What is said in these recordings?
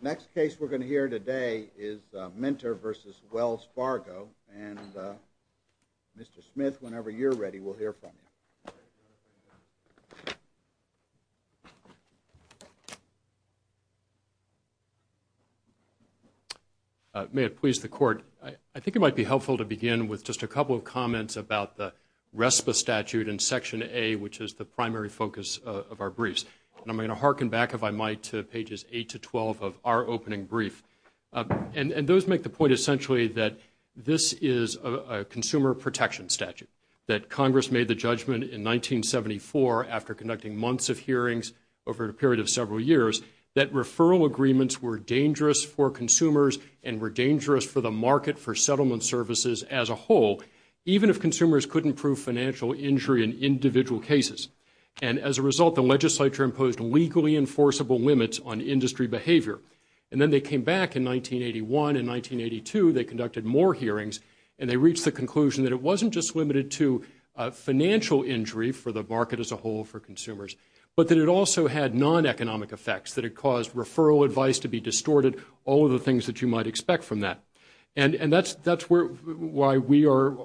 Next case we're going to hear today is Minter v. Wells Fargo, and Mr. Smith, whenever you're ready, we'll hear from you. May it please the Court, I think it might be helpful to begin with just a couple of comments about the RESPA statute in Section A, which is the primary focus of our briefs. And I'm going to harken back, if I might, to pages 8 to 12 of our opening brief. And those make the point essentially that this is a consumer protection statute, that Congress made the judgment in 1974, after conducting months of hearings over a period of several years, that referral agreements were dangerous for consumers and were dangerous for the market for settlement services as a whole, even if consumers couldn't prove financial injury in individual cases. And as a result, the legislature imposed legally enforceable limits on industry behavior. And then they came back in 1981 and 1982, they conducted more hearings, and they reached the conclusion that it wasn't just limited to financial injury for the market as a whole for consumers, but that it also had non-economic effects, that it caused referral advice to be distorted, all of the things that you might expect from that. And that's where we are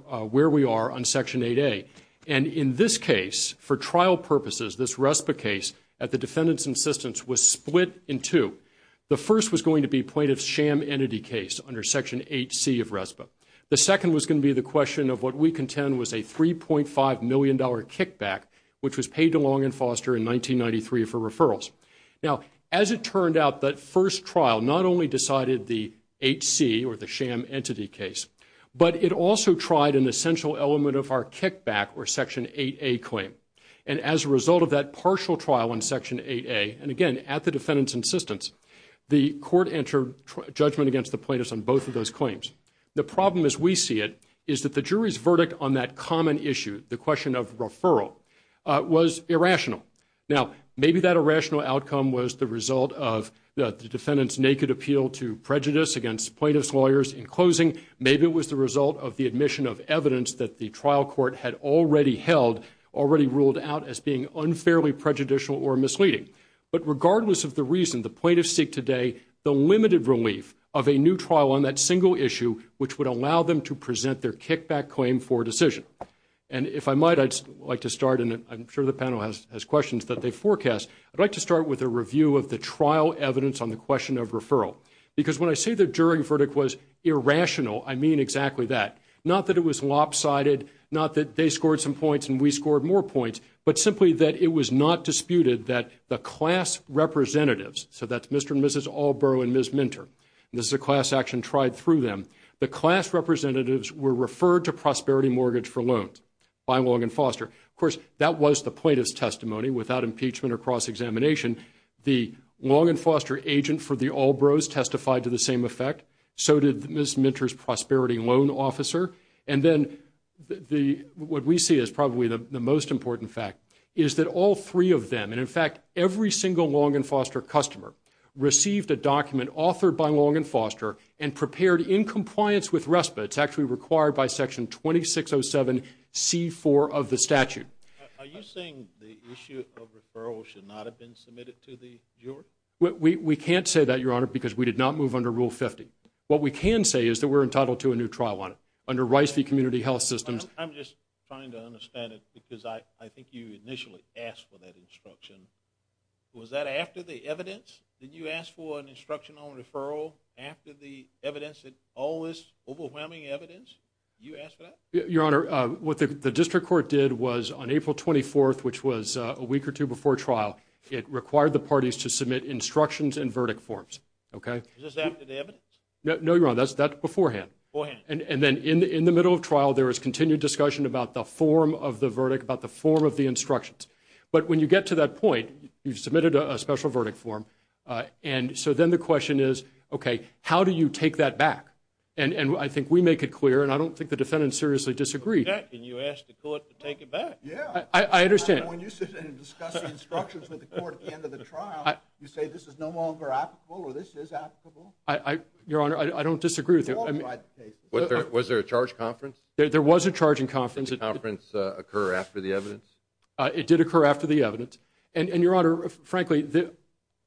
on Section 8A. And in this case, for trial purposes, this RESPA case at the defendant's insistence was split in two. The first was going to be plaintiff's sham entity case under Section 8C of RESPA. The second was going to be the question of what we contend was a $3.5 million kickback, which was paid to Long and Foster in 1993 for referrals. Now, as it turned out, that first trial not only decided the 8C or the sham entity case, but it also tried an essential element of our kickback or Section 8A claim. And as a result of that partial trial in Section 8A, and again, at the defendant's insistence, the court entered judgment against the plaintiffs on both of those claims. The problem as we see it is that the jury's verdict on that common issue, the question of referral, was irrational. Now, maybe that irrational outcome was the result of the defendant's naked appeal to prejudice against plaintiff's lawyers in closing. Maybe it was the result of the admission of evidence that the trial court had already held, already ruled out as being unfairly prejudicial or misleading. But regardless of the reason, the plaintiffs seek today the limited relief of a new trial on that single issue, which would allow them to present their kickback claim for decision. And if I might, I'd like to start, and I'm sure the panel has questions that they forecast, I'd like to start with a review of the trial evidence on the question of referral. Because when I say the jury verdict was irrational, I mean exactly that. Not that it was lopsided, not that they scored some points and we scored more points, but simply that it was not disputed that the class representatives, so that's Mr. and Mrs. Allborough and Ms. Minter, and this is a class action tried through them, the class representatives were referred to Prosperity Mortgage for Loans by Long & Foster. Of course, that was the plaintiff's testimony without impeachment or cross-examination. The Long & Foster agent for the Allboroughs testified to the same effect. So did Ms. Minter's prosperity loan officer. And then what we see as probably the most important fact is that all three of them, and in fact every single Long & Foster customer, received a document authored by Long & Foster and prepared in compliance with RESPA. It's actually required by Section 2607C4 of the statute. Are you saying the issue of referral should not have been submitted to the jury? We can't say that, Your Honor, because we did not move under Rule 50. What we can say is that we're entitled to a new trial on it under Rice v. Community Health Systems. I'm just trying to understand it because I think you initially asked for that instruction. Was that after the evidence? Did you ask for an instructional referral after the evidence, all this overwhelming evidence? Did you ask for that? Your Honor, what the district court did was on April 24th, which was a week or two before trial, it required the parties to submit instructions and verdict forms. Okay? Is this after the evidence? No, Your Honor, that's beforehand. And then in the middle of trial, there was continued discussion about the form of the verdict, about the form of the instructions. But when you get to that point, you've submitted a special verdict form, and so then the question is, okay, how do you take that back? And I think we make it clear, and I don't think the defendants seriously disagree. In fact, can you ask the court to take it back? Yeah. I understand. When you sit and discuss the instructions with the court at the end of the trial, you say this is no longer applicable or this is applicable? Your Honor, I don't disagree with you. Was there a charge conference? There was a charging conference. Did the conference occur after the evidence? It did occur after the evidence. And, Your Honor, frankly,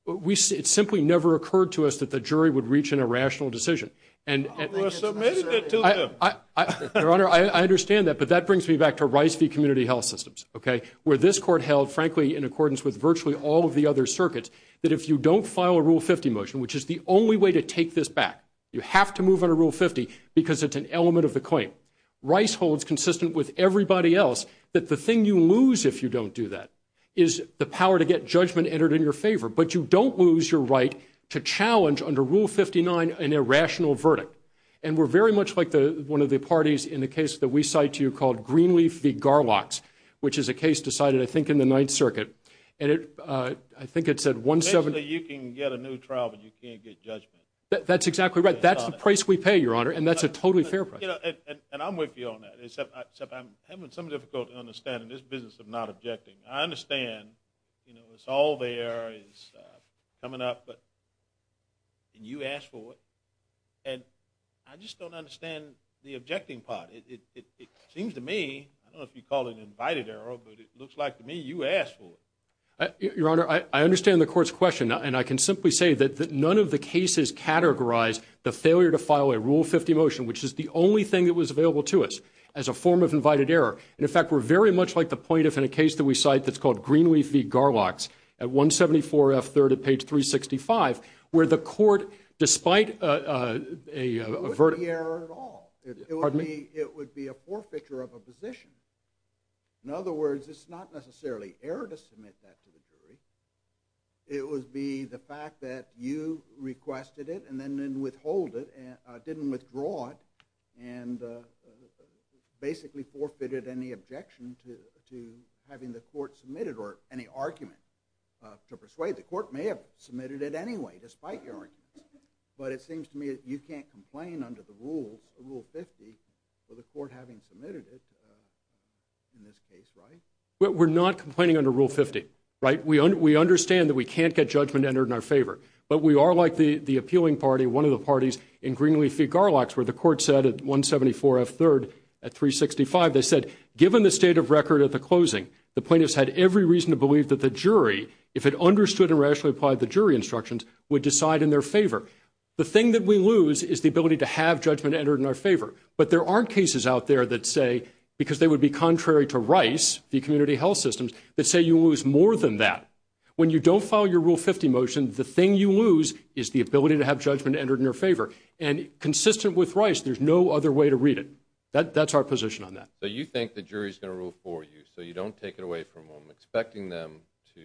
it simply never occurred to us that the jury would reach an irrational decision. You submitted it to them. Your Honor, I understand that, but that brings me back to Rice v. Community Health Systems, okay, where this court held, frankly, in accordance with virtually all of the other circuits, that if you don't file a Rule 50 motion, which is the only way to take this back, Rice holds, consistent with everybody else, that the thing you lose if you don't do that is the power to get judgment entered in your favor. But you don't lose your right to challenge, under Rule 59, an irrational verdict. And we're very much like one of the parties in the case that we cite to you called Greenleaf v. Garlox, which is a case decided, I think, in the Ninth Circuit. And I think it's at 170. Basically, you can get a new trial, but you can't get judgment. That's exactly right. That's the price we pay, Your Honor, and that's a totally fair price. And I'm with you on that, except I'm having some difficulty understanding this business of not objecting. I understand, you know, it's all there, it's coming up, and you asked for it. And I just don't understand the objecting part. It seems to me, I don't know if you'd call it an invited error, but it looks like to me you asked for it. Your Honor, I understand the court's question, and I can simply say that none of the cases categorize the failure to file a Rule 50 motion, which is the only thing that was available to us, as a form of invited error. And, in fact, we're very much like the plaintiff in a case that we cite that's called Greenleaf v. Garlox, at 174 F. 3rd at page 365, where the court, despite a verdict. It wouldn't be error at all. Pardon me? It would be a forfeiture of a position. In other words, it's not necessarily error to submit that to the jury. It would be the fact that you requested it, and then withhold it, didn't withdraw it, and basically forfeited any objection to having the court submit it, or any argument to persuade. The court may have submitted it anyway, despite your argument. But it seems to me that you can't complain under the rules, Rule 50, for the court having submitted it in this case, right? We're not complaining under Rule 50, right? We understand that we can't get judgment entered in our favor. But we are like the appealing party, one of the parties in Greenleaf v. Garlox, where the court said at 174 F. 3rd at 365, they said, given the state of record at the closing, the plaintiffs had every reason to believe that the jury, if it understood and rationally applied the jury instructions, would decide in their favor. The thing that we lose is the ability to have judgment entered in our favor. But there aren't cases out there that say, because they would be contrary to Rice, v. Community Health Systems, that say you lose more than that. When you don't follow your Rule 50 motion, the thing you lose is the ability to have judgment entered in your favor. And consistent with Rice, there's no other way to read it. That's our position on that. So you think the jury's going to rule for you, so you don't take it away from them, expecting them to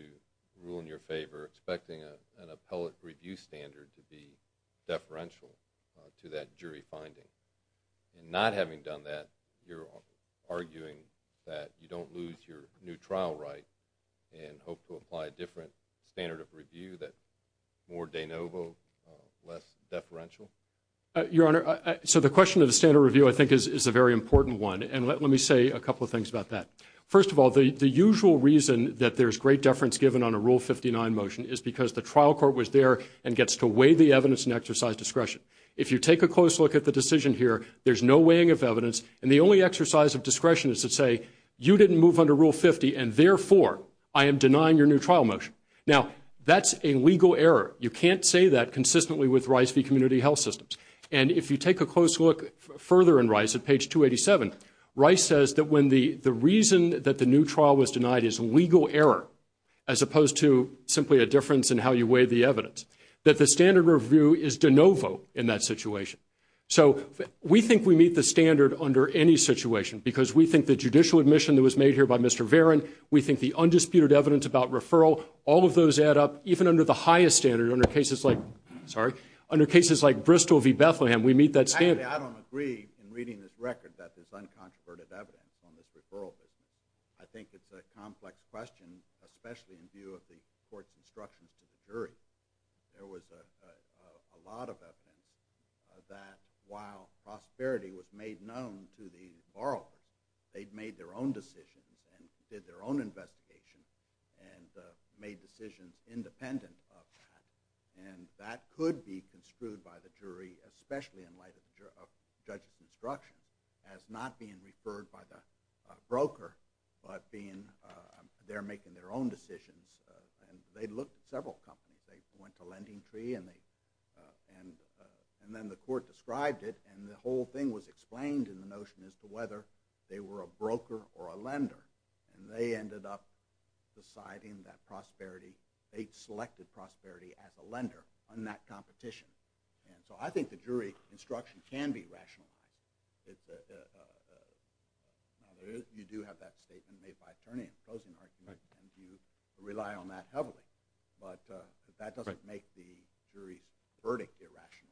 rule in your favor, expecting an appellate review standard to be deferential to that jury finding. And not having done that, you're arguing that you don't lose your new trial right and hope to apply a different standard of review that's more de novo, less deferential? Your Honor, so the question of the standard review, I think, is a very important one. And let me say a couple of things about that. First of all, the usual reason that there's great deference given on a Rule 59 motion is because the trial court was there and gets to weigh the evidence and exercise discretion. If you take a close look at the decision here, there's no weighing of evidence, and the only exercise of discretion is to say, you didn't move under Rule 50 and, therefore, I am denying your new trial motion. Now, that's a legal error. You can't say that consistently with Rice v. Community Health Systems. And if you take a close look further in Rice at page 287, Rice says that when the reason that the new trial was denied is legal error, as opposed to simply a difference in how you weigh the evidence, that the standard review is de novo in that situation. So we think we meet the standard under any situation because we think the judicial admission that was made here by Mr. Varon, we think the undisputed evidence about referral, all of those add up. Even under the highest standard, under cases like Bristol v. Bethlehem, we meet that standard. Actually, I don't agree in reading this record that there's uncontroverted evidence on this referral. I think it's a complex question, especially in view of the court's instructions to the jury. There was a lot of evidence that while prosperity was made known to the borrower, they'd made their own decisions and did their own investigation and made decisions independent of that. And that could be construed by the jury, especially in light of judge's instruction, as not being referred by the broker, but they're making their own decisions. And they looked at several companies. They went to LendingTree, and then the court described it, and the whole thing was explained in the notion as to whether they were a broker or a lender. And they ended up deciding that prosperity, they selected prosperity as a lender in that competition. And so I think the jury instruction can be rationalized. You do have that statement made by attorney in the closing argument, and you rely on that heavily. But that doesn't make the jury's verdict irrational.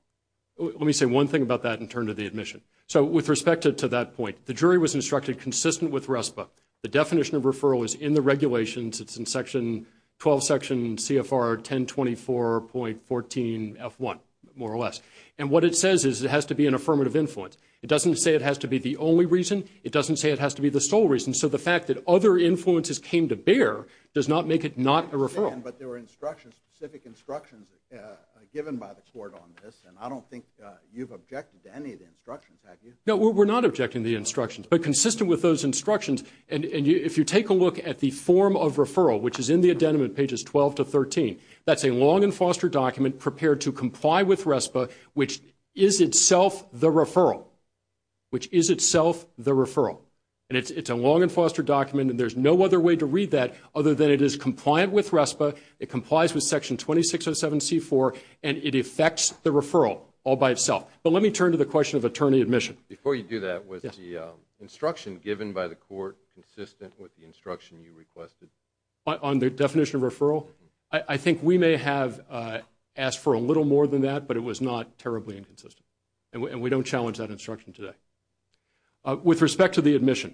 Let me say one thing about that in terms of the admission. So with respect to that point, the jury was instructed consistent with RESPA. The definition of referral is in the regulations. It's in Section 12, Section CFR 1024.14F1, more or less. And what it says is it has to be an affirmative influence. It doesn't say it has to be the only reason. It doesn't say it has to be the sole reason. So the fact that other influences came to bear does not make it not a referral. But there were instructions, specific instructions given by the court on this, and I don't think you've objected to any of the instructions, have you? No, we're not objecting to the instructions, but consistent with those instructions. And if you take a look at the form of referral, which is in the addendum in pages 12 to 13, that's a long and foster document prepared to comply with RESPA, which is itself the referral. Which is itself the referral. And it's a long and foster document, and there's no other way to read that other than it is compliant with RESPA, it complies with Section 2607C4, and it affects the referral all by itself. But let me turn to the question of attorney admission. Before you do that, was the instruction given by the court consistent with the instruction you requested? On the definition of referral? I think we may have asked for a little more than that, but it was not terribly inconsistent. And we don't challenge that instruction today. With respect to the admission,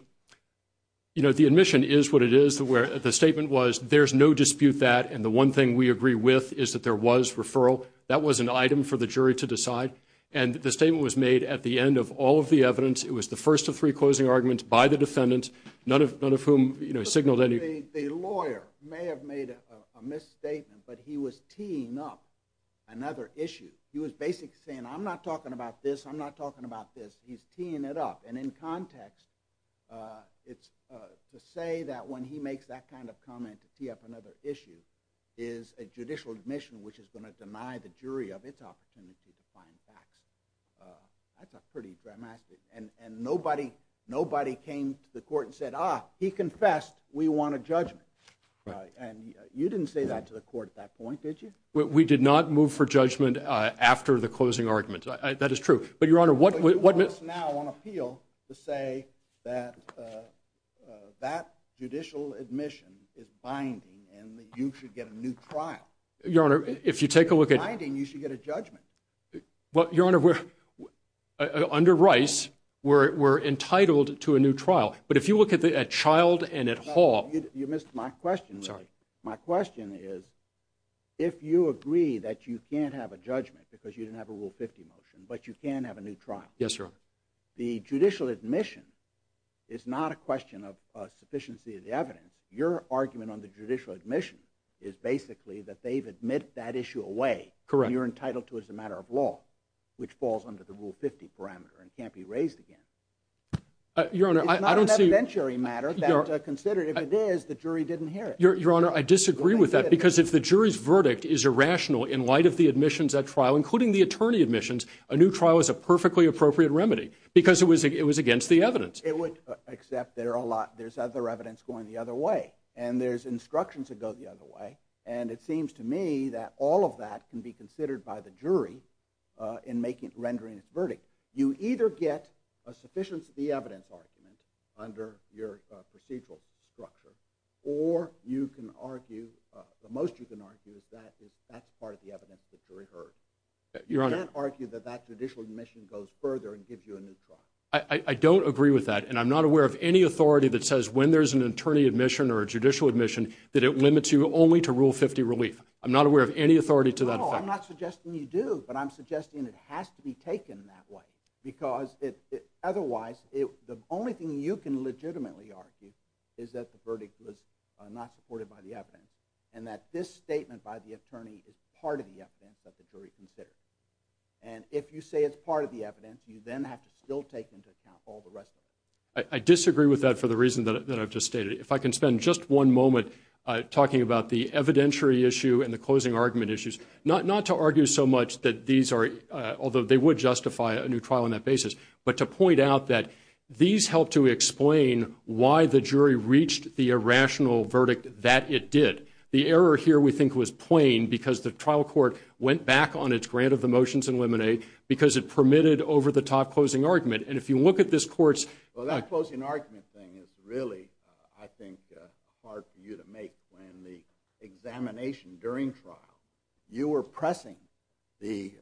you know, the admission is what it is. The statement was there's no dispute that, and the one thing we agree with is that there was referral. That was an item for the jury to decide. And the statement was made at the end of all of the evidence. It was the first of three closing arguments by the defendant, none of whom, you know, signaled anything. The lawyer may have made a misstatement, but he was teeing up another issue. He was basically saying, I'm not talking about this, I'm not talking about this. He's teeing it up. And in context, to say that when he makes that kind of comment, to tee up another issue, is a judicial admission which is going to deny the jury of its opportunity to find facts. That's pretty dramatic. And nobody came to the court and said, ah, he confessed, we want a judgment. And you didn't say that to the court at that point, did you? We did not move for judgment after the closing argument. That is true. But you want us now on appeal to say that that judicial admission is binding and that you should get a new trial. If it's binding, you should get a judgment. Your Honor, under Rice, we're entitled to a new trial. But if you look at Childe and at Hall. You missed my question. Sorry. My question is, if you agree that you can't have a judgment because you didn't have a Rule 50 motion, but you can have a new trial. Yes, Your Honor. The judicial admission is not a question of sufficiency of the evidence. Your argument on the judicial admission is basically that they've admitted that issue away. Correct. And you're entitled to it as a matter of law, which falls under the Rule 50 parameter and can't be raised again. Your Honor, I don't see. It's not an evidentiary matter that considered. If it is, the jury didn't hear it. Your Honor, I disagree with that. Because if the jury's verdict is irrational in light of the admissions at trial, including the attorney admissions, a new trial is a perfectly appropriate remedy. Because it was against the evidence. Except there's other evidence going the other way. And there's instructions that go the other way. And it seems to me that all of that can be considered by the jury in rendering its verdict. You either get a sufficiency of the evidence argument under your procedural structure. Or you can argue, the most you can argue is that that's part of the evidence that the jury heard. Your Honor. You can't argue that that judicial admission goes further and gives you a new trial. I don't agree with that. And I'm not aware of any authority that says when there's an attorney admission or a judicial admission that it limits you only to Rule 50 relief. I'm not aware of any authority to that effect. No, I'm not suggesting you do. But I'm suggesting it has to be taken that way. Because otherwise, the only thing you can legitimately argue is that the verdict was not supported by the evidence. And that this statement by the attorney is part of the evidence that the jury considered. And if you say it's part of the evidence, you then have to still take into account all the rest of it. I disagree with that for the reason that I've just stated. If I can spend just one moment talking about the evidentiary issue and the closing argument issues. Not to argue so much that these are, although they would justify a new trial on that basis, but to point out that these help to explain why the jury reached the irrational verdict that it did. The error here, we think, was plain because the trial court went back on its grant of the motions in Lemonade because it permitted over-the-top closing argument. And if you look at this court's- You were pressing the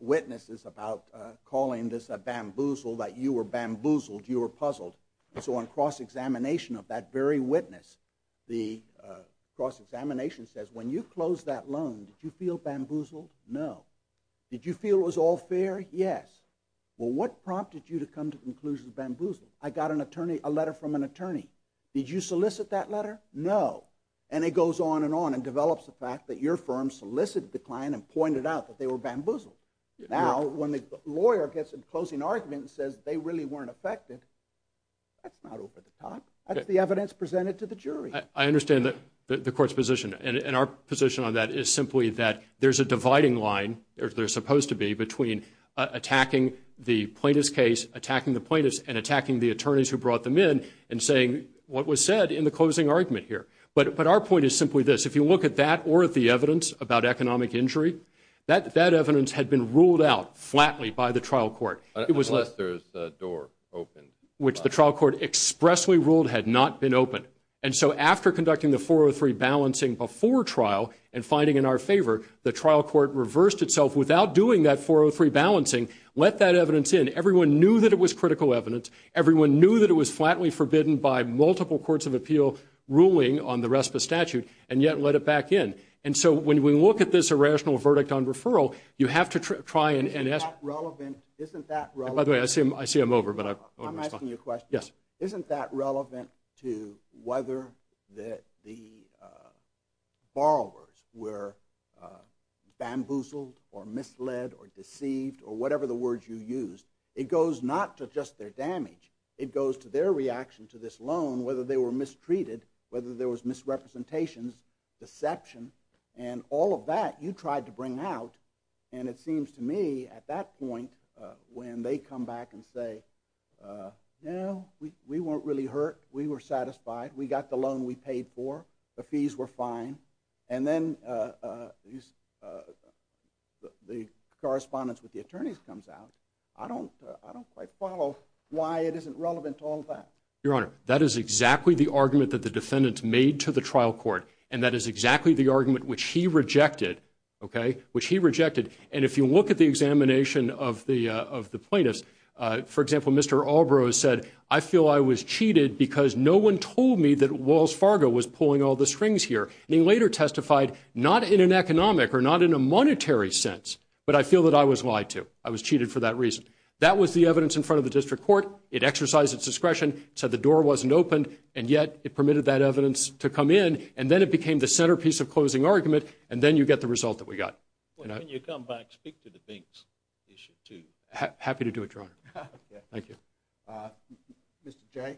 witnesses about calling this a bamboozle, that you were bamboozled, you were puzzled. So on cross-examination of that very witness, the cross-examination says, when you closed that loan, did you feel bamboozled? No. Did you feel it was all fair? Yes. Well, what prompted you to come to the conclusion it was bamboozled? I got a letter from an attorney. Did you solicit that letter? No. And it goes on and on and develops the fact that your firm solicited the client and pointed out that they were bamboozled. Now, when the lawyer gets a closing argument and says they really weren't affected, that's not over-the-top. That's the evidence presented to the jury. I understand the court's position. And our position on that is simply that there's a dividing line, or there's supposed to be, between attacking the plaintiff's case, attacking the plaintiffs, and attacking the attorneys who brought them in and saying what was said in the closing argument here. But our point is simply this. If you look at that or at the evidence about economic injury, that evidence had been ruled out flatly by the trial court. Unless there's a door open. Which the trial court expressly ruled had not been open. And so after conducting the 403 balancing before trial and finding in our favor, the trial court reversed itself without doing that 403 balancing, let that evidence in. Everyone knew that it was critical evidence. Everyone knew that it was flatly forbidden by multiple courts of appeal ruling on the rest of the statute, and yet let it back in. And so when we look at this irrational verdict on referral, you have to try and ask. Isn't that relevant? By the way, I see I'm over. I'm asking you a question. Yes. Isn't that relevant to whether the borrowers were bamboozled or misled or deceived, or whatever the words you used? It goes not to just their damage. It goes to their reaction to this loan, whether they were mistreated, whether there was misrepresentations, deception, and all of that you tried to bring out. And it seems to me at that point when they come back and say, you know, we weren't really hurt. We were satisfied. We got the loan we paid for. The fees were fine. And then the correspondence with the attorneys comes out. I don't quite follow why it isn't relevant to all that. Your Honor, that is exactly the argument that the defendant made to the trial court, and that is exactly the argument which he rejected, okay, which he rejected. And if you look at the examination of the plaintiffs, for example, Mr. Albrose said, I feel I was cheated because no one told me that Wells Fargo was pulling all the strings here. And he later testified, not in an economic or not in a monetary sense, but I feel that I was lied to. I was cheated for that reason. That was the evidence in front of the district court. It exercised its discretion. It said the door wasn't opened, and yet it permitted that evidence to come in, and then it became the centerpiece of closing argument, and then you get the result that we got. When you come back, speak to the Binks issue too. Happy to do it, Your Honor. Thank you. Mr. Jay?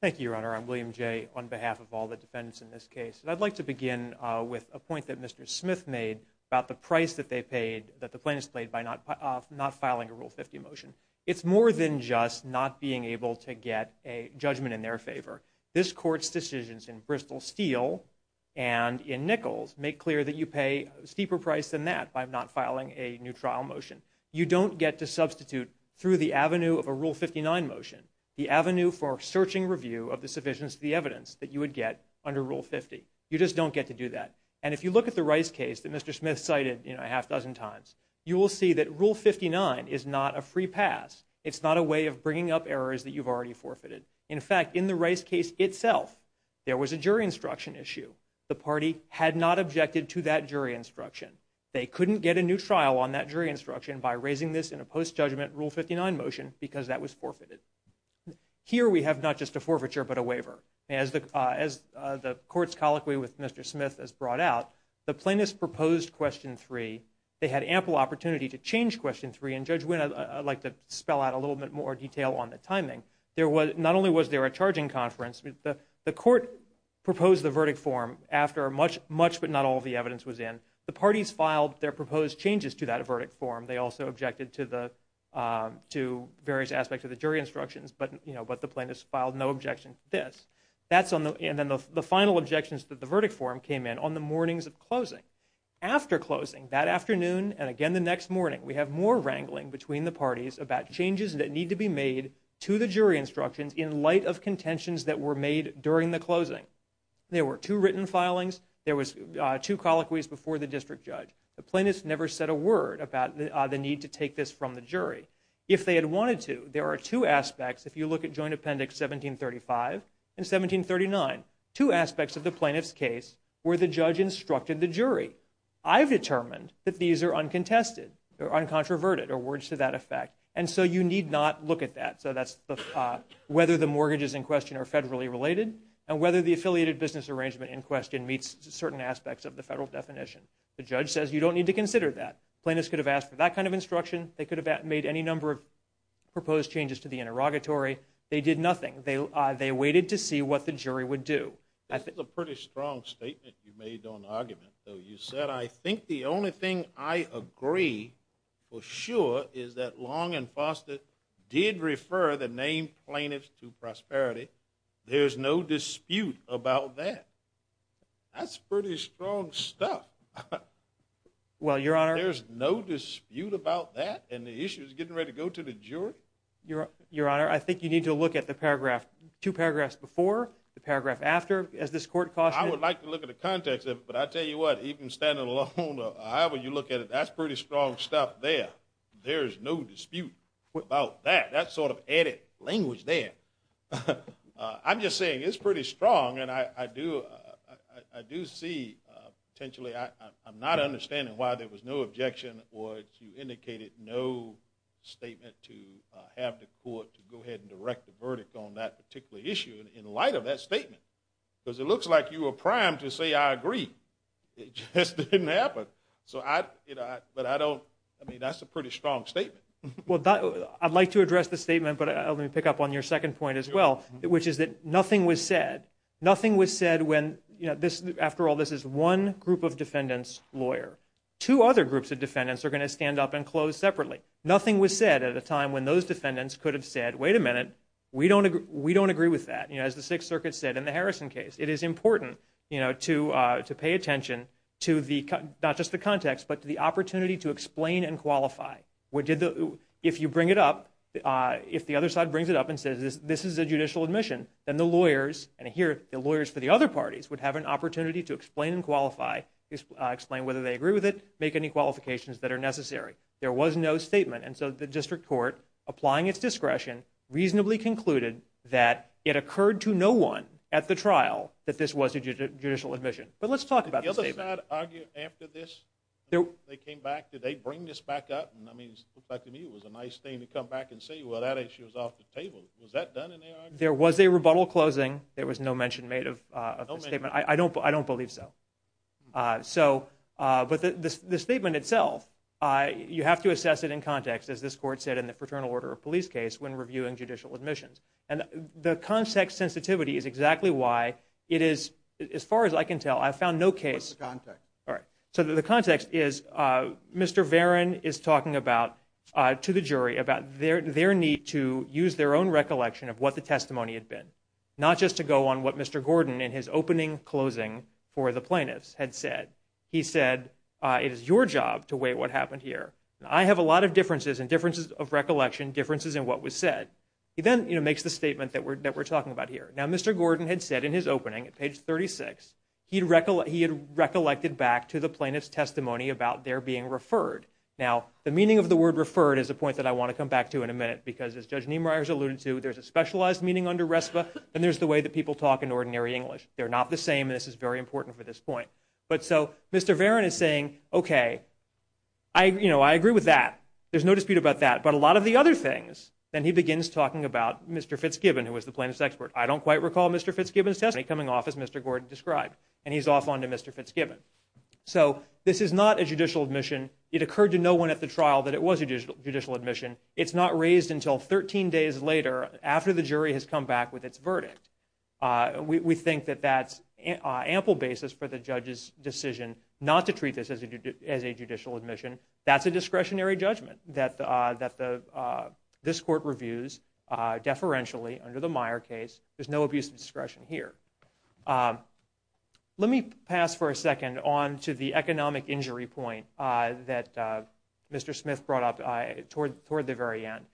Thank you, Your Honor. I'm William Jay on behalf of all the defendants in this case. I'd like to begin with a point that Mr. Smith made about the price that they paid, that the plaintiffs paid by not filing a Rule 50 motion. It's more than just not being able to get a judgment in their favor. This Court's decisions in Bristol Steel and in Nichols make clear that you pay a steeper price than that by not filing a new trial motion. You don't get to substitute through the avenue of a Rule 59 motion, the avenue for searching review of the sufficiency of the evidence that you would get under Rule 50. You just don't get to do that. And if you look at the Rice case that Mr. Smith cited a half dozen times, you will see that Rule 59 is not a free pass. It's not a way of bringing up errors that you've already forfeited. In fact, in the Rice case itself, there was a jury instruction issue. The party had not objected to that jury instruction. They couldn't get a new trial on that jury instruction by raising this in a post-judgment Rule 59 motion because that was forfeited. Here we have not just a forfeiture but a waiver. As the Court's colloquy with Mr. Smith has brought out, the plaintiffs proposed Question 3. They had ample opportunity to change Question 3, and Judge Wynn, I'd like to spell out a little bit more detail on the timing. Not only was there a charging conference, the Court proposed the verdict form after much but not all the evidence was in. The parties filed their proposed changes to that verdict form. They also objected to various aspects of the jury instructions, but the plaintiffs filed no objection to this. And then the final objections to the verdict form came in on the mornings of closing. After closing, that afternoon and again the next morning, we have more wrangling between the parties about changes that need to be made to the jury instructions in light of contentions that were made during the closing. There were two written filings. There was two colloquies before the district judge. The plaintiffs never said a word about the need to take this from the jury. If they had wanted to, there are two aspects. If you look at Joint Appendix 1735 and 1739, two aspects of the plaintiff's case where the judge instructed the jury. I've determined that these are uncontested or uncontroverted, or words to that effect, and so you need not look at that. So that's whether the mortgages in question are federally related and whether the affiliated business arrangement in question meets certain aspects of the federal definition. The judge says you don't need to consider that. Plaintiffs could have asked for that kind of instruction. They could have made any number of proposed changes to the interrogatory. They did nothing. They waited to see what the jury would do. That's a pretty strong statement you made on the argument, though. You said, I think the only thing I agree for sure is that Long and Foster did refer the name plaintiffs to prosperity. There's no dispute about that. That's pretty strong stuff. Well, Your Honor. There's no dispute about that and the issue is getting ready to go to the jury? Your Honor, I think you need to look at the paragraph, two paragraphs before, the paragraph after, as this court cautioned. I would like to look at the context of it, but I tell you what, even standing alone or however you look at it, that's pretty strong stuff there. There's no dispute about that. That's sort of added language there. I'm just saying it's pretty strong and I do see potentially, I'm not understanding why there was no objection or you indicated no statement to have the court to go ahead and direct the verdict on that particular issue in light of that statement. Because it looks like you were primed to say, I agree. It just didn't happen. But I don't, I mean, that's a pretty strong statement. I'd like to address the statement, but let me pick up on your second point as well, which is that nothing was said. Nothing was said when, after all, this is one group of defendants' lawyer. Two other groups of defendants are going to stand up and close separately. Nothing was said at a time when those defendants could have said, wait a minute, we don't agree with that. As the Sixth Circuit said in the Harrison case, it is important to pay attention to the, not just the context, but to the opportunity to explain and qualify. If you bring it up, if the other side brings it up and says, this is a judicial admission, then the lawyers, and here the lawyers for the other parties would have an opportunity to explain and qualify, explain whether they agree with it, make any qualifications that are necessary. There was no statement, and so the district court, applying its discretion, reasonably concluded that it occurred to no one at the trial that this was a judicial admission. But let's talk about the statement. Did the other side argue after this? Did they bring this back up? It looked like to me it was a nice thing to come back and say, well, that issue is off the table. Was that done in the argument? There was a rebuttal closing. There was no mention made of the statement. I don't believe so. But the statement itself, you have to assess it in context, as this court said in the Fraternal Order of Police case, when reviewing judicial admissions. And the context sensitivity is exactly why it is, as far as I can tell, I've found no case. What's the context? All right. So the context is Mr. Varon is talking to the jury about their need to use their own recollection of what the testimony had been, not just to go on what Mr. Gordon, in his opening closing for the plaintiffs, had said. He said, it is your job to weigh what happened here. I have a lot of differences, and differences of recollection, differences in what was said. He then makes the statement that we're talking about here. Now, Mr. Gordon had said in his opening, at page 36, he had recollected back to the plaintiff's testimony about their being referred. Now, the meaning of the word referred is a point that I want to come back to in a minute, because as Judge Niemeyer has alluded to, there's a specialized meaning under RESPA, and there's the way that people talk in ordinary English. They're not the same, and this is very important for this point. But so Mr. Varon is saying, okay, I agree with that. There's no dispute about that. But a lot of the other things, then he begins talking about Mr. Fitzgibbon, who was the plaintiff's expert. I don't quite recall Mr. Fitzgibbon's testimony coming off as Mr. Gordon described. And he's off on to Mr. Fitzgibbon. So this is not a judicial admission. It occurred to no one at the trial that it was a judicial admission. It's not raised until 13 days later, after the jury has come back with its verdict. We think that that's ample basis for the judge's decision not to treat this as a judicial admission. That's a discretionary judgment that this court reviews deferentially under the law. There's no abuse of discretion here. Let me pass for a second on to the economic injury point that Mr. Smith brought up toward the very end.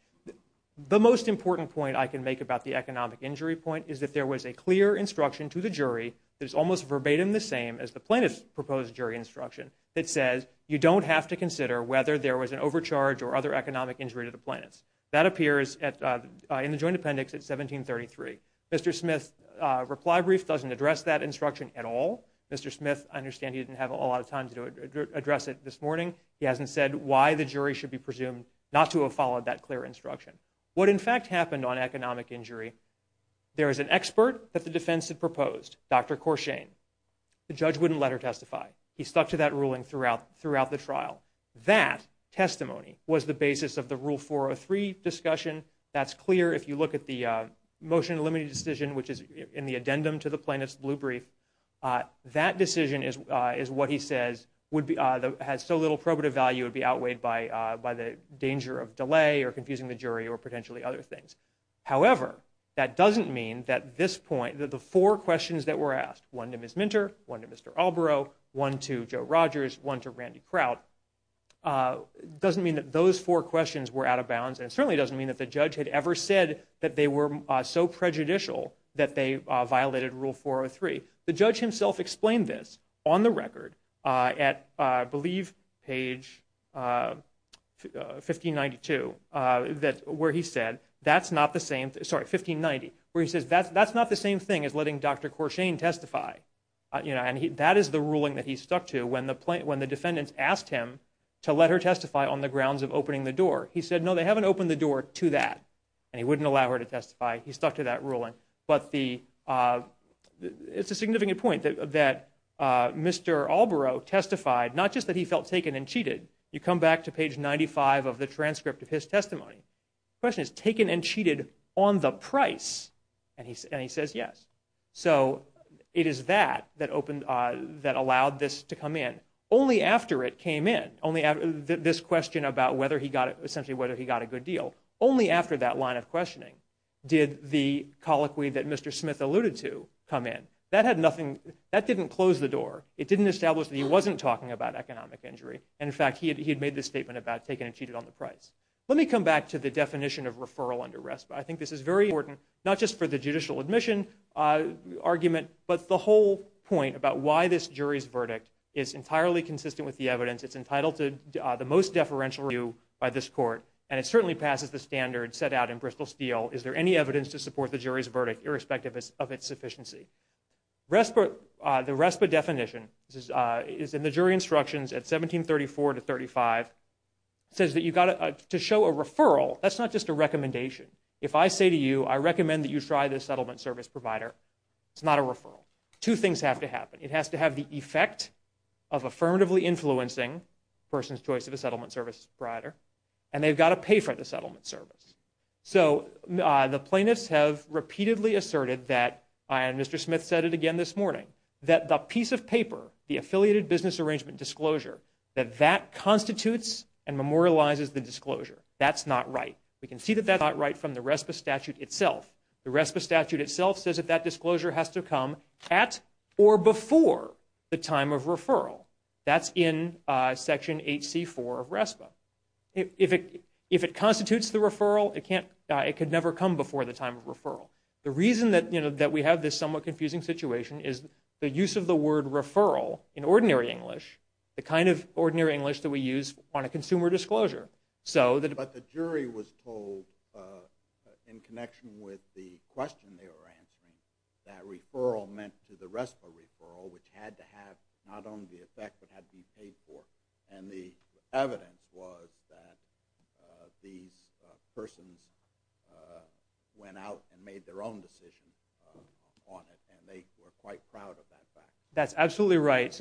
The most important point I can make about the economic injury point is that there was a clear instruction to the jury that is almost verbatim the same as the plaintiff's proposed jury instruction that says you don't have to consider whether there was an overcharge or other economic injury to the plaintiffs. That appears in the joint appendix at 1733. Mr. Smith's reply brief doesn't address that instruction at all. Mr. Smith, I understand he didn't have a lot of time to address it this morning. He hasn't said why the jury should be presumed not to have followed that clear instruction. What in fact happened on economic injury, there is an expert that the defense had proposed, Dr. Corshane. The judge wouldn't let her testify. He stuck to that ruling throughout the trial. That testimony was the basis of the Rule 403 discussion. That's clear if you look at the motion limiting decision which is in the addendum to the plaintiff's blue brief. That decision is what he says has so little probative value it would be outweighed by the danger of delay or confusing the jury or potentially other things. However, that doesn't mean that this point, that the four questions that were asked, one to Ms. Minter, one to Mr. Alborough, one to Joe Rogers, one to the plaintiff, doesn't mean that those four questions were out of bounds and certainly doesn't mean that the judge had ever said that they were so prejudicial that they violated Rule 403. The judge himself explained this on the record at, I believe, page 1592 where he said that's not the same, sorry, 1590, where he says that's not the same thing as letting Dr. Corshane testify. That is the ruling that he stuck to when the defendants asked him to let her testify on the grounds of opening the door. He said, no, they haven't opened the door to that and he wouldn't allow her to testify. He stuck to that ruling. But it's a significant point that Mr. Alborough testified not just that he felt taken and cheated. You come back to page 95 of the transcript of his testimony. The question is taken and cheated on the price and he says yes. So it is that that allowed this to come in. Only after it came in, this question about whether he got a good deal, only after that line of questioning did the colloquy that Mr. Smith alluded to come in. That didn't close the door. It didn't establish that he wasn't talking about economic injury. In fact, he had made this statement about taken and cheated on the price. Let me come back to the definition of referral under RESPA. I think this is very important, not just for the judicial admission argument, but the whole point about why this jury's verdict is entirely consistent with the evidence. It's entitled to the most deferential review by this court and it certainly passes the standard set out in Bristol Steel. Is there any evidence to support the jury's verdict irrespective of its sufficiency? The RESPA definition is in the jury instructions at 1734 to 1735. It says that to show a referral, that's not just a recommendation. If I say to you, I recommend that you try this settlement service provider, it's not a referral. Two things have to happen. It has to have the effect of affirmatively influencing a person's choice of a settlement service provider and they've got to pay for the settlement service. The plaintiffs have repeatedly asserted that, and Mr. Smith said it again this morning, that the piece of paper, the affiliated business arrangement disclosure, that that constitutes and memorializes the disclosure. That's not right. We can see that that's not right from the RESPA statute itself. The RESPA statute itself says that that disclosure has to come at or before the time of referral. That's in Section 8C4 of RESPA. If it constitutes the referral, it could never come before the time of referral. The reason that we have this somewhat confusing situation is the use of the word referral in ordinary English, the kind of ordinary English that we use on a consumer disclosure. But the jury was told, in connection with the question they were answering, that referral meant to the RESPA referral, which had to have not only the effect but had to be paid for. The evidence was that these persons went out and made their own decision on it and they were quite proud of that fact. That's absolutely right.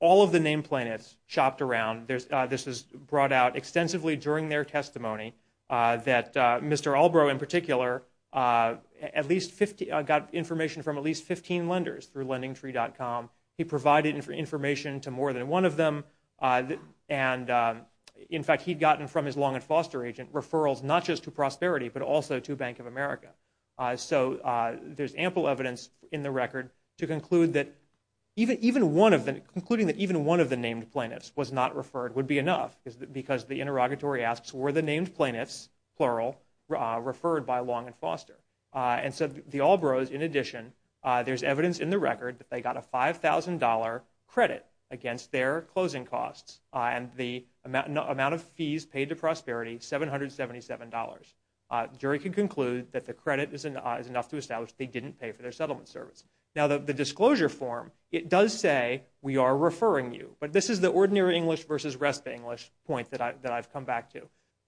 All of the name plaintiffs shopped around. This was brought out extensively during their testimony that Mr. Albro, in particular, got information from at least 15 lenders through LendingTree.com. He provided information to more than one of them. In fact, he'd gotten from his Long and Foster agent referrals not just to Prosperity but also to Bank of America. There's ample evidence in the record concluding that even one of the named plaintiffs was not referred would be enough because the interrogatory asks, were the named plaintiffs, plural, referred by Long and Foster? The Albros, in addition, there's evidence in the record that they got a $5,000 credit against their closing costs and the amount of fees paid to Prosperity, $777. The jury can conclude that the credit is enough to establish they didn't pay for their settlement service. Now, the disclosure form, it does say, we are referring you. But this is the ordinary English versus rest of the English point that I've come back to,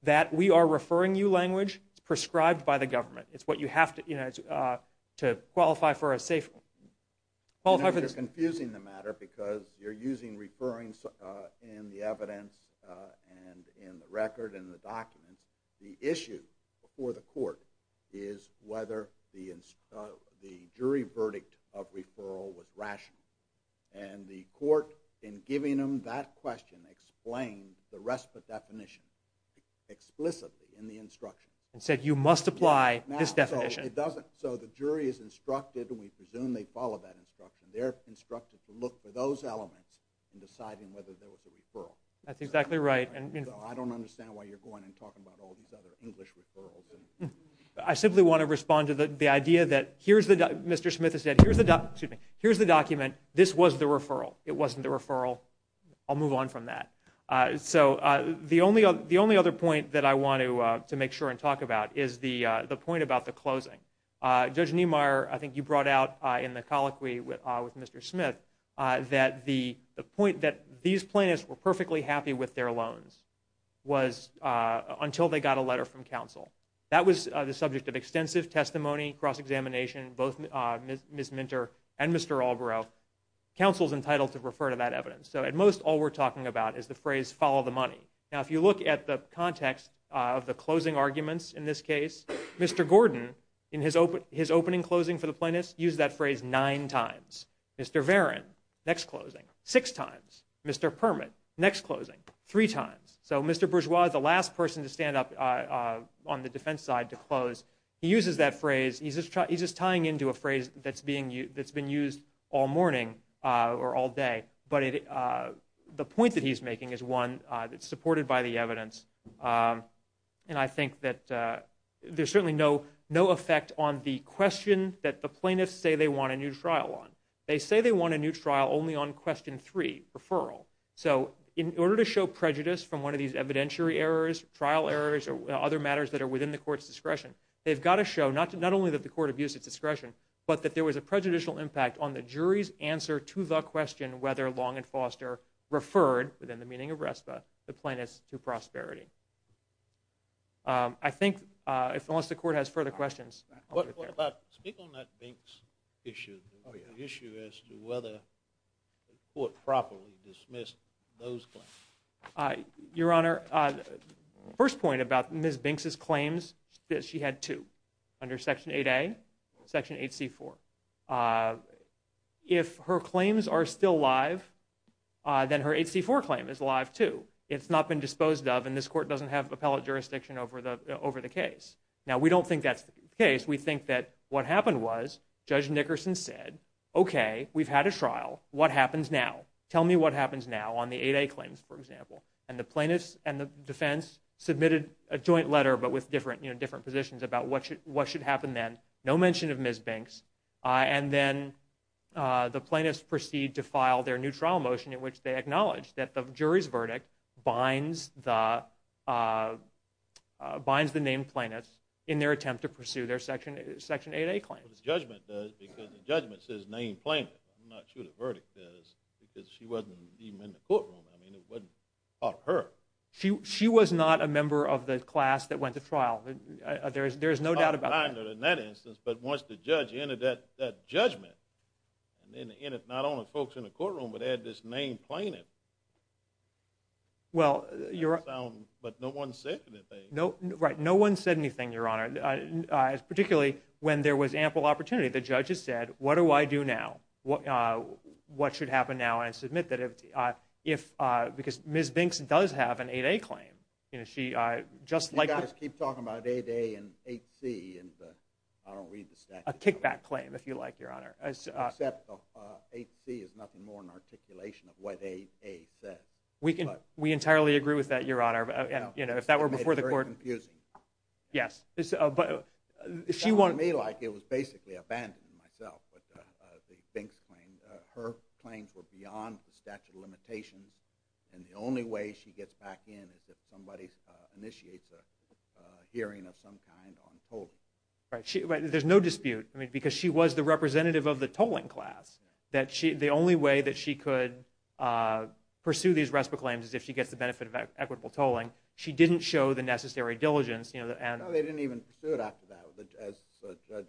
that we are referring you language prescribed by the government. It's what you have to qualify for a safe. You're confusing the matter because you're using referring in the evidence and in the record and the documents. The issue before the court is whether the jury verdict of referral was rational. And the court, in giving them that question, explained the rest of the definition explicitly in the instruction. And said, you must apply this definition. It doesn't. So the jury is instructed and we presume they follow that instruction. They're instructed to look for those elements in deciding whether there was a referral. That's exactly right. I don't understand why you're going and talking about all these other English referrals. I simply want to respond to the idea that here's the document. Mr. Smith has said, here's the document. This was the referral. It wasn't the referral. I'll move on from that. So the only other point that I want to make sure and talk about is the point about the closing. Judge Niemeyer, I think you brought out in the colloquy with Mr. Smith, that the point that these plaintiffs were perfectly happy with their loans was until they got a letter from counsel. That was the subject of extensive testimony, cross-examination, both Ms. Minter and Mr. Albrough. Counsel's entitled to refer to that evidence. So at most, all we're talking about is the phrase, follow the money. Now, if you look at the context of the closing arguments in this case, Mr. Gordon, in his opening closing for the plaintiffs, used that phrase nine times. Mr. Varon, next closing, six times. Mr. Permit, next closing, three times. So Mr. Bourgeois, the last person to stand up on the defense side to close, he uses that phrase. He's just tying into a phrase that's been used all morning or all day. But the point that he's making is one that's supported by the evidence, and I think that there's certainly no effect on the question that the They say they want a new trial only on question three, referral. So in order to show prejudice from one of these evidentiary errors, trial errors, or other matters that are within the court's discretion, they've got to show not only that the court abused its discretion, but that there was a prejudicial impact on the jury's answer to the question whether Long and Foster referred, within the meaning of RESPA, the plaintiffs to prosperity. I think, unless the court has further questions. Speak on that Binks issue, the issue as to whether the court properly dismissed those claims. Your Honor, first point about Ms. Binks' claims, that she had two, under Section 8A, Section 8C4. If her claims are still live, then her 8C4 claim is live, too. It's not been disposed of, and this court doesn't have appellate jurisdiction over the case. Now, we don't think that's the case. We think that what happened was Judge Nickerson said, okay, we've had a trial, what happens now? Tell me what happens now on the 8A claims, for example. And the plaintiffs and the defense submitted a joint letter, but with different positions about what should happen then. No mention of Ms. Binks. And then the plaintiffs proceed to file their new trial motion in which they acknowledge that the jury's verdict binds the named plaintiffs in their attempt to pursue their Section 8A claims. But the judgment does, because the judgment says named plaintiff. I'm not sure the verdict does, because she wasn't even in the courtroom. I mean, it wasn't up to her. She was not a member of the class that went to trial. There is no doubt about that. In that instance, but once the judge entered that judgment, not only folks in the courtroom, but they had this named plaintiff. But no one said anything. Right, no one said anything, Your Honor, particularly when there was ample opportunity. The judges said, what do I do now? What should happen now? And I submit that if, because Ms. Binks does have an 8A claim. You guys keep talking about 8A and 8C, and I don't read the statute. It's a kickback claim, if you like, Your Honor. Except 8C is nothing more than articulation of what 8A says. We entirely agree with that, Your Honor. If that were before the court. It's very confusing. Yes. It sounded to me like it was basically abandoning myself, with the Binks claim. Her claims were beyond the statute of limitations, and the only way she gets back in is if somebody initiates a hearing of some kind on polling. There's no dispute. Because she was the representative of the tolling class. The only way that she could pursue these RESPA claims is if she gets the benefit of equitable tolling. She didn't show the necessary diligence. No, they didn't even pursue it after that. As the judge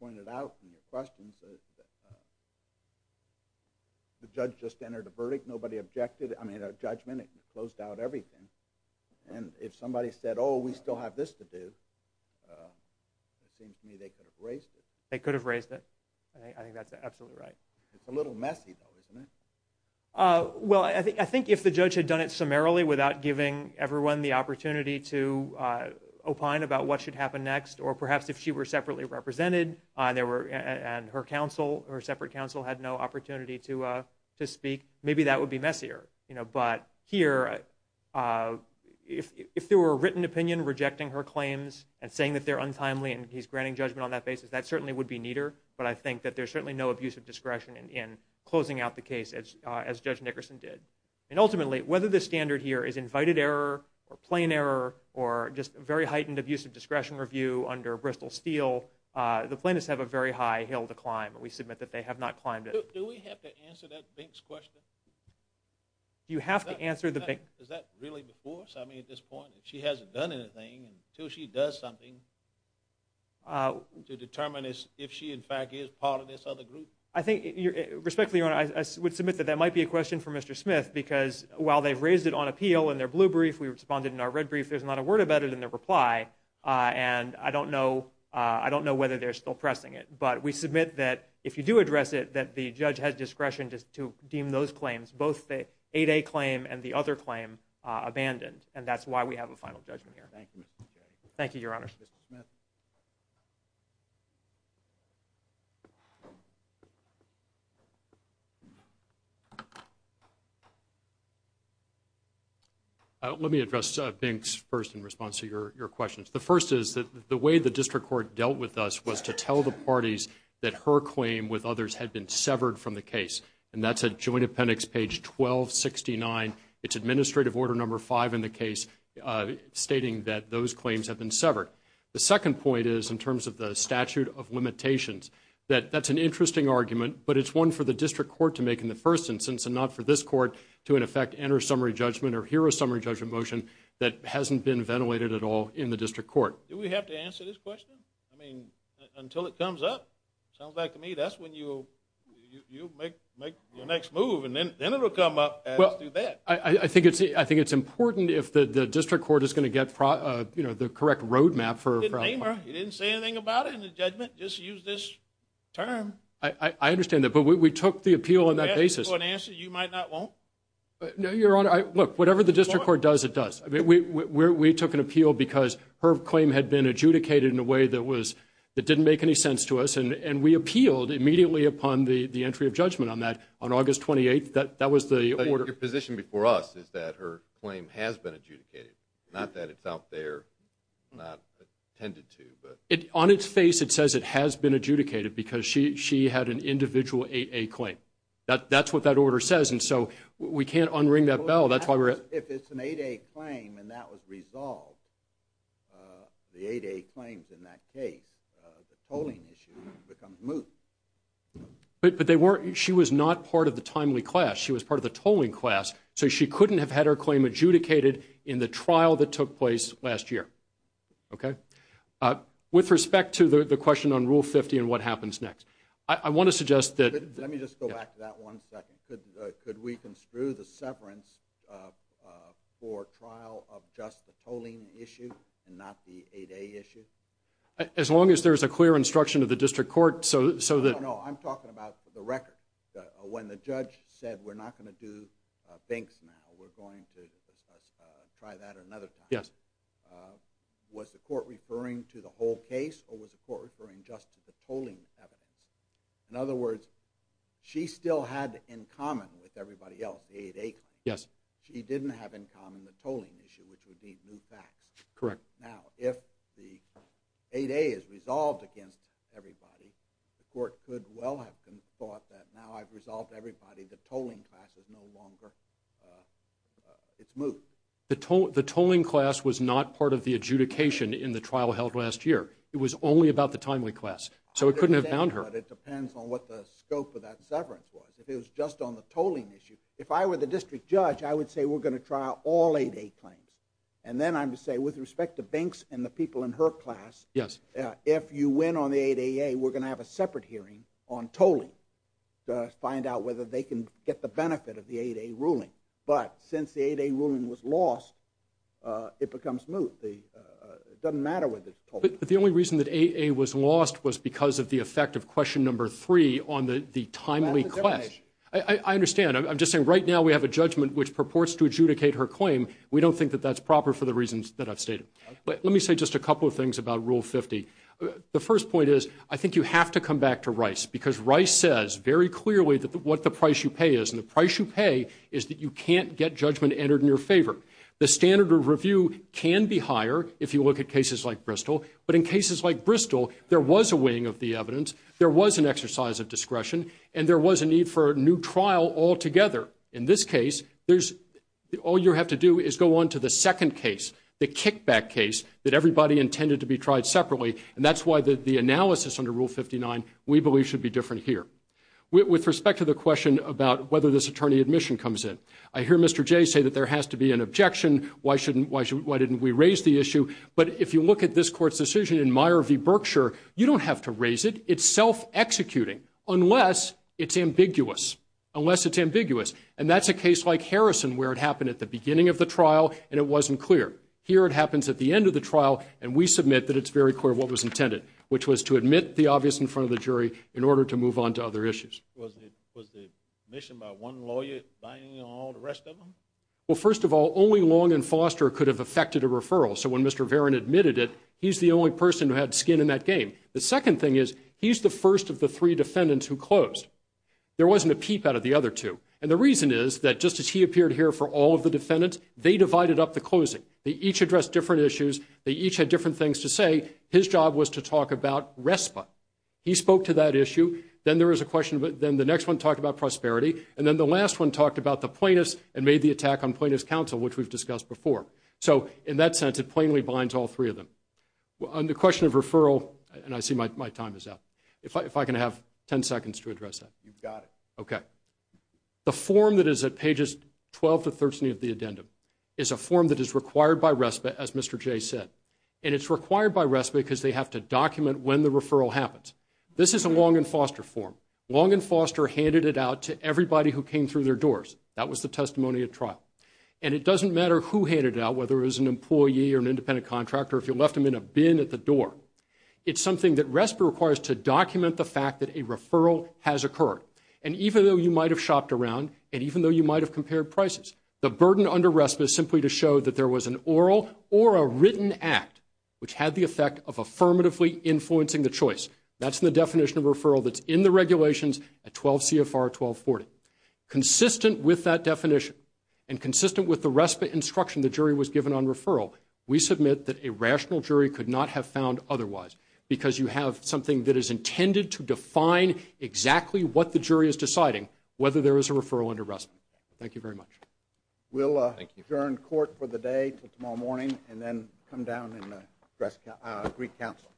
pointed out from your questions, the judge just entered a verdict. Nobody objected. I mean, a judgment. It closed out everything. And if somebody said, oh, we still have this to do, it seems to me they could have raised it. They could have raised it. I think that's absolutely right. It's a little messy, though, isn't it? Well, I think if the judge had done it summarily, without giving everyone the opportunity to opine about what should happen next, or perhaps if she were separately represented and her separate counsel had no opportunity to speak, maybe that would be messier. But here, if there were a written opinion rejecting her claims and saying that they're untimely and he's granting judgment on that basis, that certainly would be neater. But I think that there's certainly no abuse of discretion in closing out the case, as Judge Nickerson did. And ultimately, whether the standard here is invited error or plain error or just a very heightened abuse of discretion review under Bristol Steele, the plaintiffs have a very high hill to climb. We submit that they have not climbed it. Do we have to answer that Bink's question? You have to answer the Bink. Is that really before us? I mean, at this point, if she hasn't done anything, until she does something to determine if she, in fact, is part of this other group? I think, respectfully, Your Honor, I would submit that that might be a question for Mr. Smith because while they've raised it on appeal in their blue brief, we responded in our red brief, there's not a word about it in their reply, and I don't know whether they're still pressing it. But we submit that if you do address it, that the judge has discretion to deem those claims, both the 8A claim and the other claim, abandoned, and that's why we have a final judgment here. Thank you, Mr. J. Thank you, Your Honor. Mr. Smith? Let me address Bink's first in response to your questions. The first is that the way the district court dealt with us was to tell the parties that her claim with others had been severed from the case, and that's at Joint Appendix Page 1269. It's Administrative Order No. 5 in the case stating that those claims have been severed. The second point is, in terms of the statute of limitations, that that's an interesting argument, but it's one for the district court to make in the first instance and not for this court to, in effect, enter summary judgment or hear a summary judgment motion that hasn't been ventilated at all in the district court. Do we have to answer this question? I mean, until it comes up. Sounds like to me that's when you'll make your next move, and then it will come up as to that. Well, I think it's important if the district court is going to get the correct road map for a problem. You didn't name her. You didn't say anything about it in the judgment. Just use this term. I understand that, but we took the appeal on that basis. Do you have an answer you might not want? No, Your Honor. Look, whatever the district court does, it does. We took an appeal because her claim had been adjudicated in a way that didn't make any sense to us, and we appealed immediately upon the entry of judgment on that. On August 28th, that was the order. But your position before us is that her claim has been adjudicated, not that it's out there not attended to. On its face, it says it has been adjudicated because she had an individual 8A claim. That's what that order says, and so we can't unring that bell. If it's an 8A claim and that was resolved, the 8A claims in that case, the tolling issue becomes moot. But she was not part of the timely class. She was part of the tolling class, so she couldn't have had her claim adjudicated in the trial that took place last year. Okay? With respect to the question on Rule 50 and what happens next, I want to suggest that— Let me just go back to that one second. Could we construe the severance for trial of just the tolling issue and not the 8A issue? As long as there's a clear instruction of the district court so that— No, no, no. I'm talking about the record. When the judge said, we're not going to do binks now. We're going to try that another time. Yes. Was the court referring to the whole case or was the court referring just to the tolling evidence? In other words, she still had in common with everybody else the 8A claim. Yes. She didn't have in common the tolling issue, which would be moot facts. Correct. Now, if the 8A is resolved against everybody, the court could well have thought that now I've resolved everybody, the tolling class is no longer—it's moot. The tolling class was not part of the adjudication in the trial held last year. It was only about the timely class, so it couldn't have bound her. But it depends on what the scope of that severance was. If it was just on the tolling issue—if I were the district judge, I would say we're going to trial all 8A claims. Then I would say, with respect to binks and the people in her class, if you win on the 8AA, we're going to have a separate hearing on tolling to find out whether they can get the benefit of the 8A ruling. But since the 8A ruling was lost, it becomes moot. It doesn't matter whether it's tolling. But the only reason that 8A was lost was because of the effect of question number 3 on the timely class. I understand. I'm just saying right now we have a judgment which purports to adjudicate her claim. We don't think that that's proper for the reasons that I've stated. Let me say just a couple of things about Rule 50. The first point is I think you have to come back to Rice, because Rice says very clearly what the price you pay is, and the price you pay is that you can't get judgment entered in your favor. The standard of review can be higher if you look at cases like Bristol, but in cases like Bristol, there was a weighing of the evidence, there was an exercise of discretion, and there was a need for a new trial altogether. In this case, all you have to do is go on to the second case, the kickback case, that everybody intended to be tried separately, and that's why the analysis under Rule 59 we believe should be different here. With respect to the question about whether this attorney admission comes in, I hear Mr. Jay say that there has to be an objection. Why didn't we raise the issue? But if you look at this court's decision in Meyer v. Berkshire, you don't have to raise it. It's self-executing unless it's ambiguous, unless it's ambiguous. And that's a case like Harrison where it happened at the beginning of the trial, and it wasn't clear. Here it happens at the end of the trial, and we submit that it's very clear what was intended, which was to admit the obvious in front of the jury in order to move on to other issues. Was the admission by one lawyer binding on all the rest of them? Well, first of all, only Long and Foster could have affected a referral. So when Mr. Varon admitted it, he's the only person who had skin in that game. The second thing is he's the first of the three defendants who closed. There wasn't a peep out of the other two. And the reason is that just as he appeared here for all of the defendants, they divided up the closing. They each addressed different issues. They each had different things to say. His job was to talk about RESPA. He spoke to that issue. Then the next one talked about prosperity, and then the last one talked about the plaintiffs and made the attack on plaintiffs' counsel, which we've discussed before. So in that sense, it plainly binds all three of them. On the question of referral, and I see my time is up. If I can have 10 seconds to address that. You've got it. Okay. The form that is at pages 12 to 13 of the addendum is a form that is required by RESPA, as Mr. Jay said, and it's required by RESPA because they have to document when the referral happens. This is a Long and Foster form. Long and Foster handed it out to everybody who came through their doors. That was the testimony at trial. And it doesn't matter who handed it out, whether it was an employee or an independent contractor, if you left them in a bin at the door. It's something that RESPA requires to document the fact that a referral has occurred. And even though you might have shopped around, and even though you might have compared prices, the burden under RESPA is simply to show that there was an oral or a written act which had the effect of affirmatively influencing the choice. That's the definition of referral that's in the regulations at 12 CFR 1240. Consistent with that definition and consistent with the RESPA instruction the jury was given on referral, we submit that a rational jury could not have found otherwise because you have something that is intended to define exactly what the jury is deciding, whether there is a referral under RESPA. Thank you very much. We'll adjourn court for the day until tomorrow morning and then come down and address Greek Council.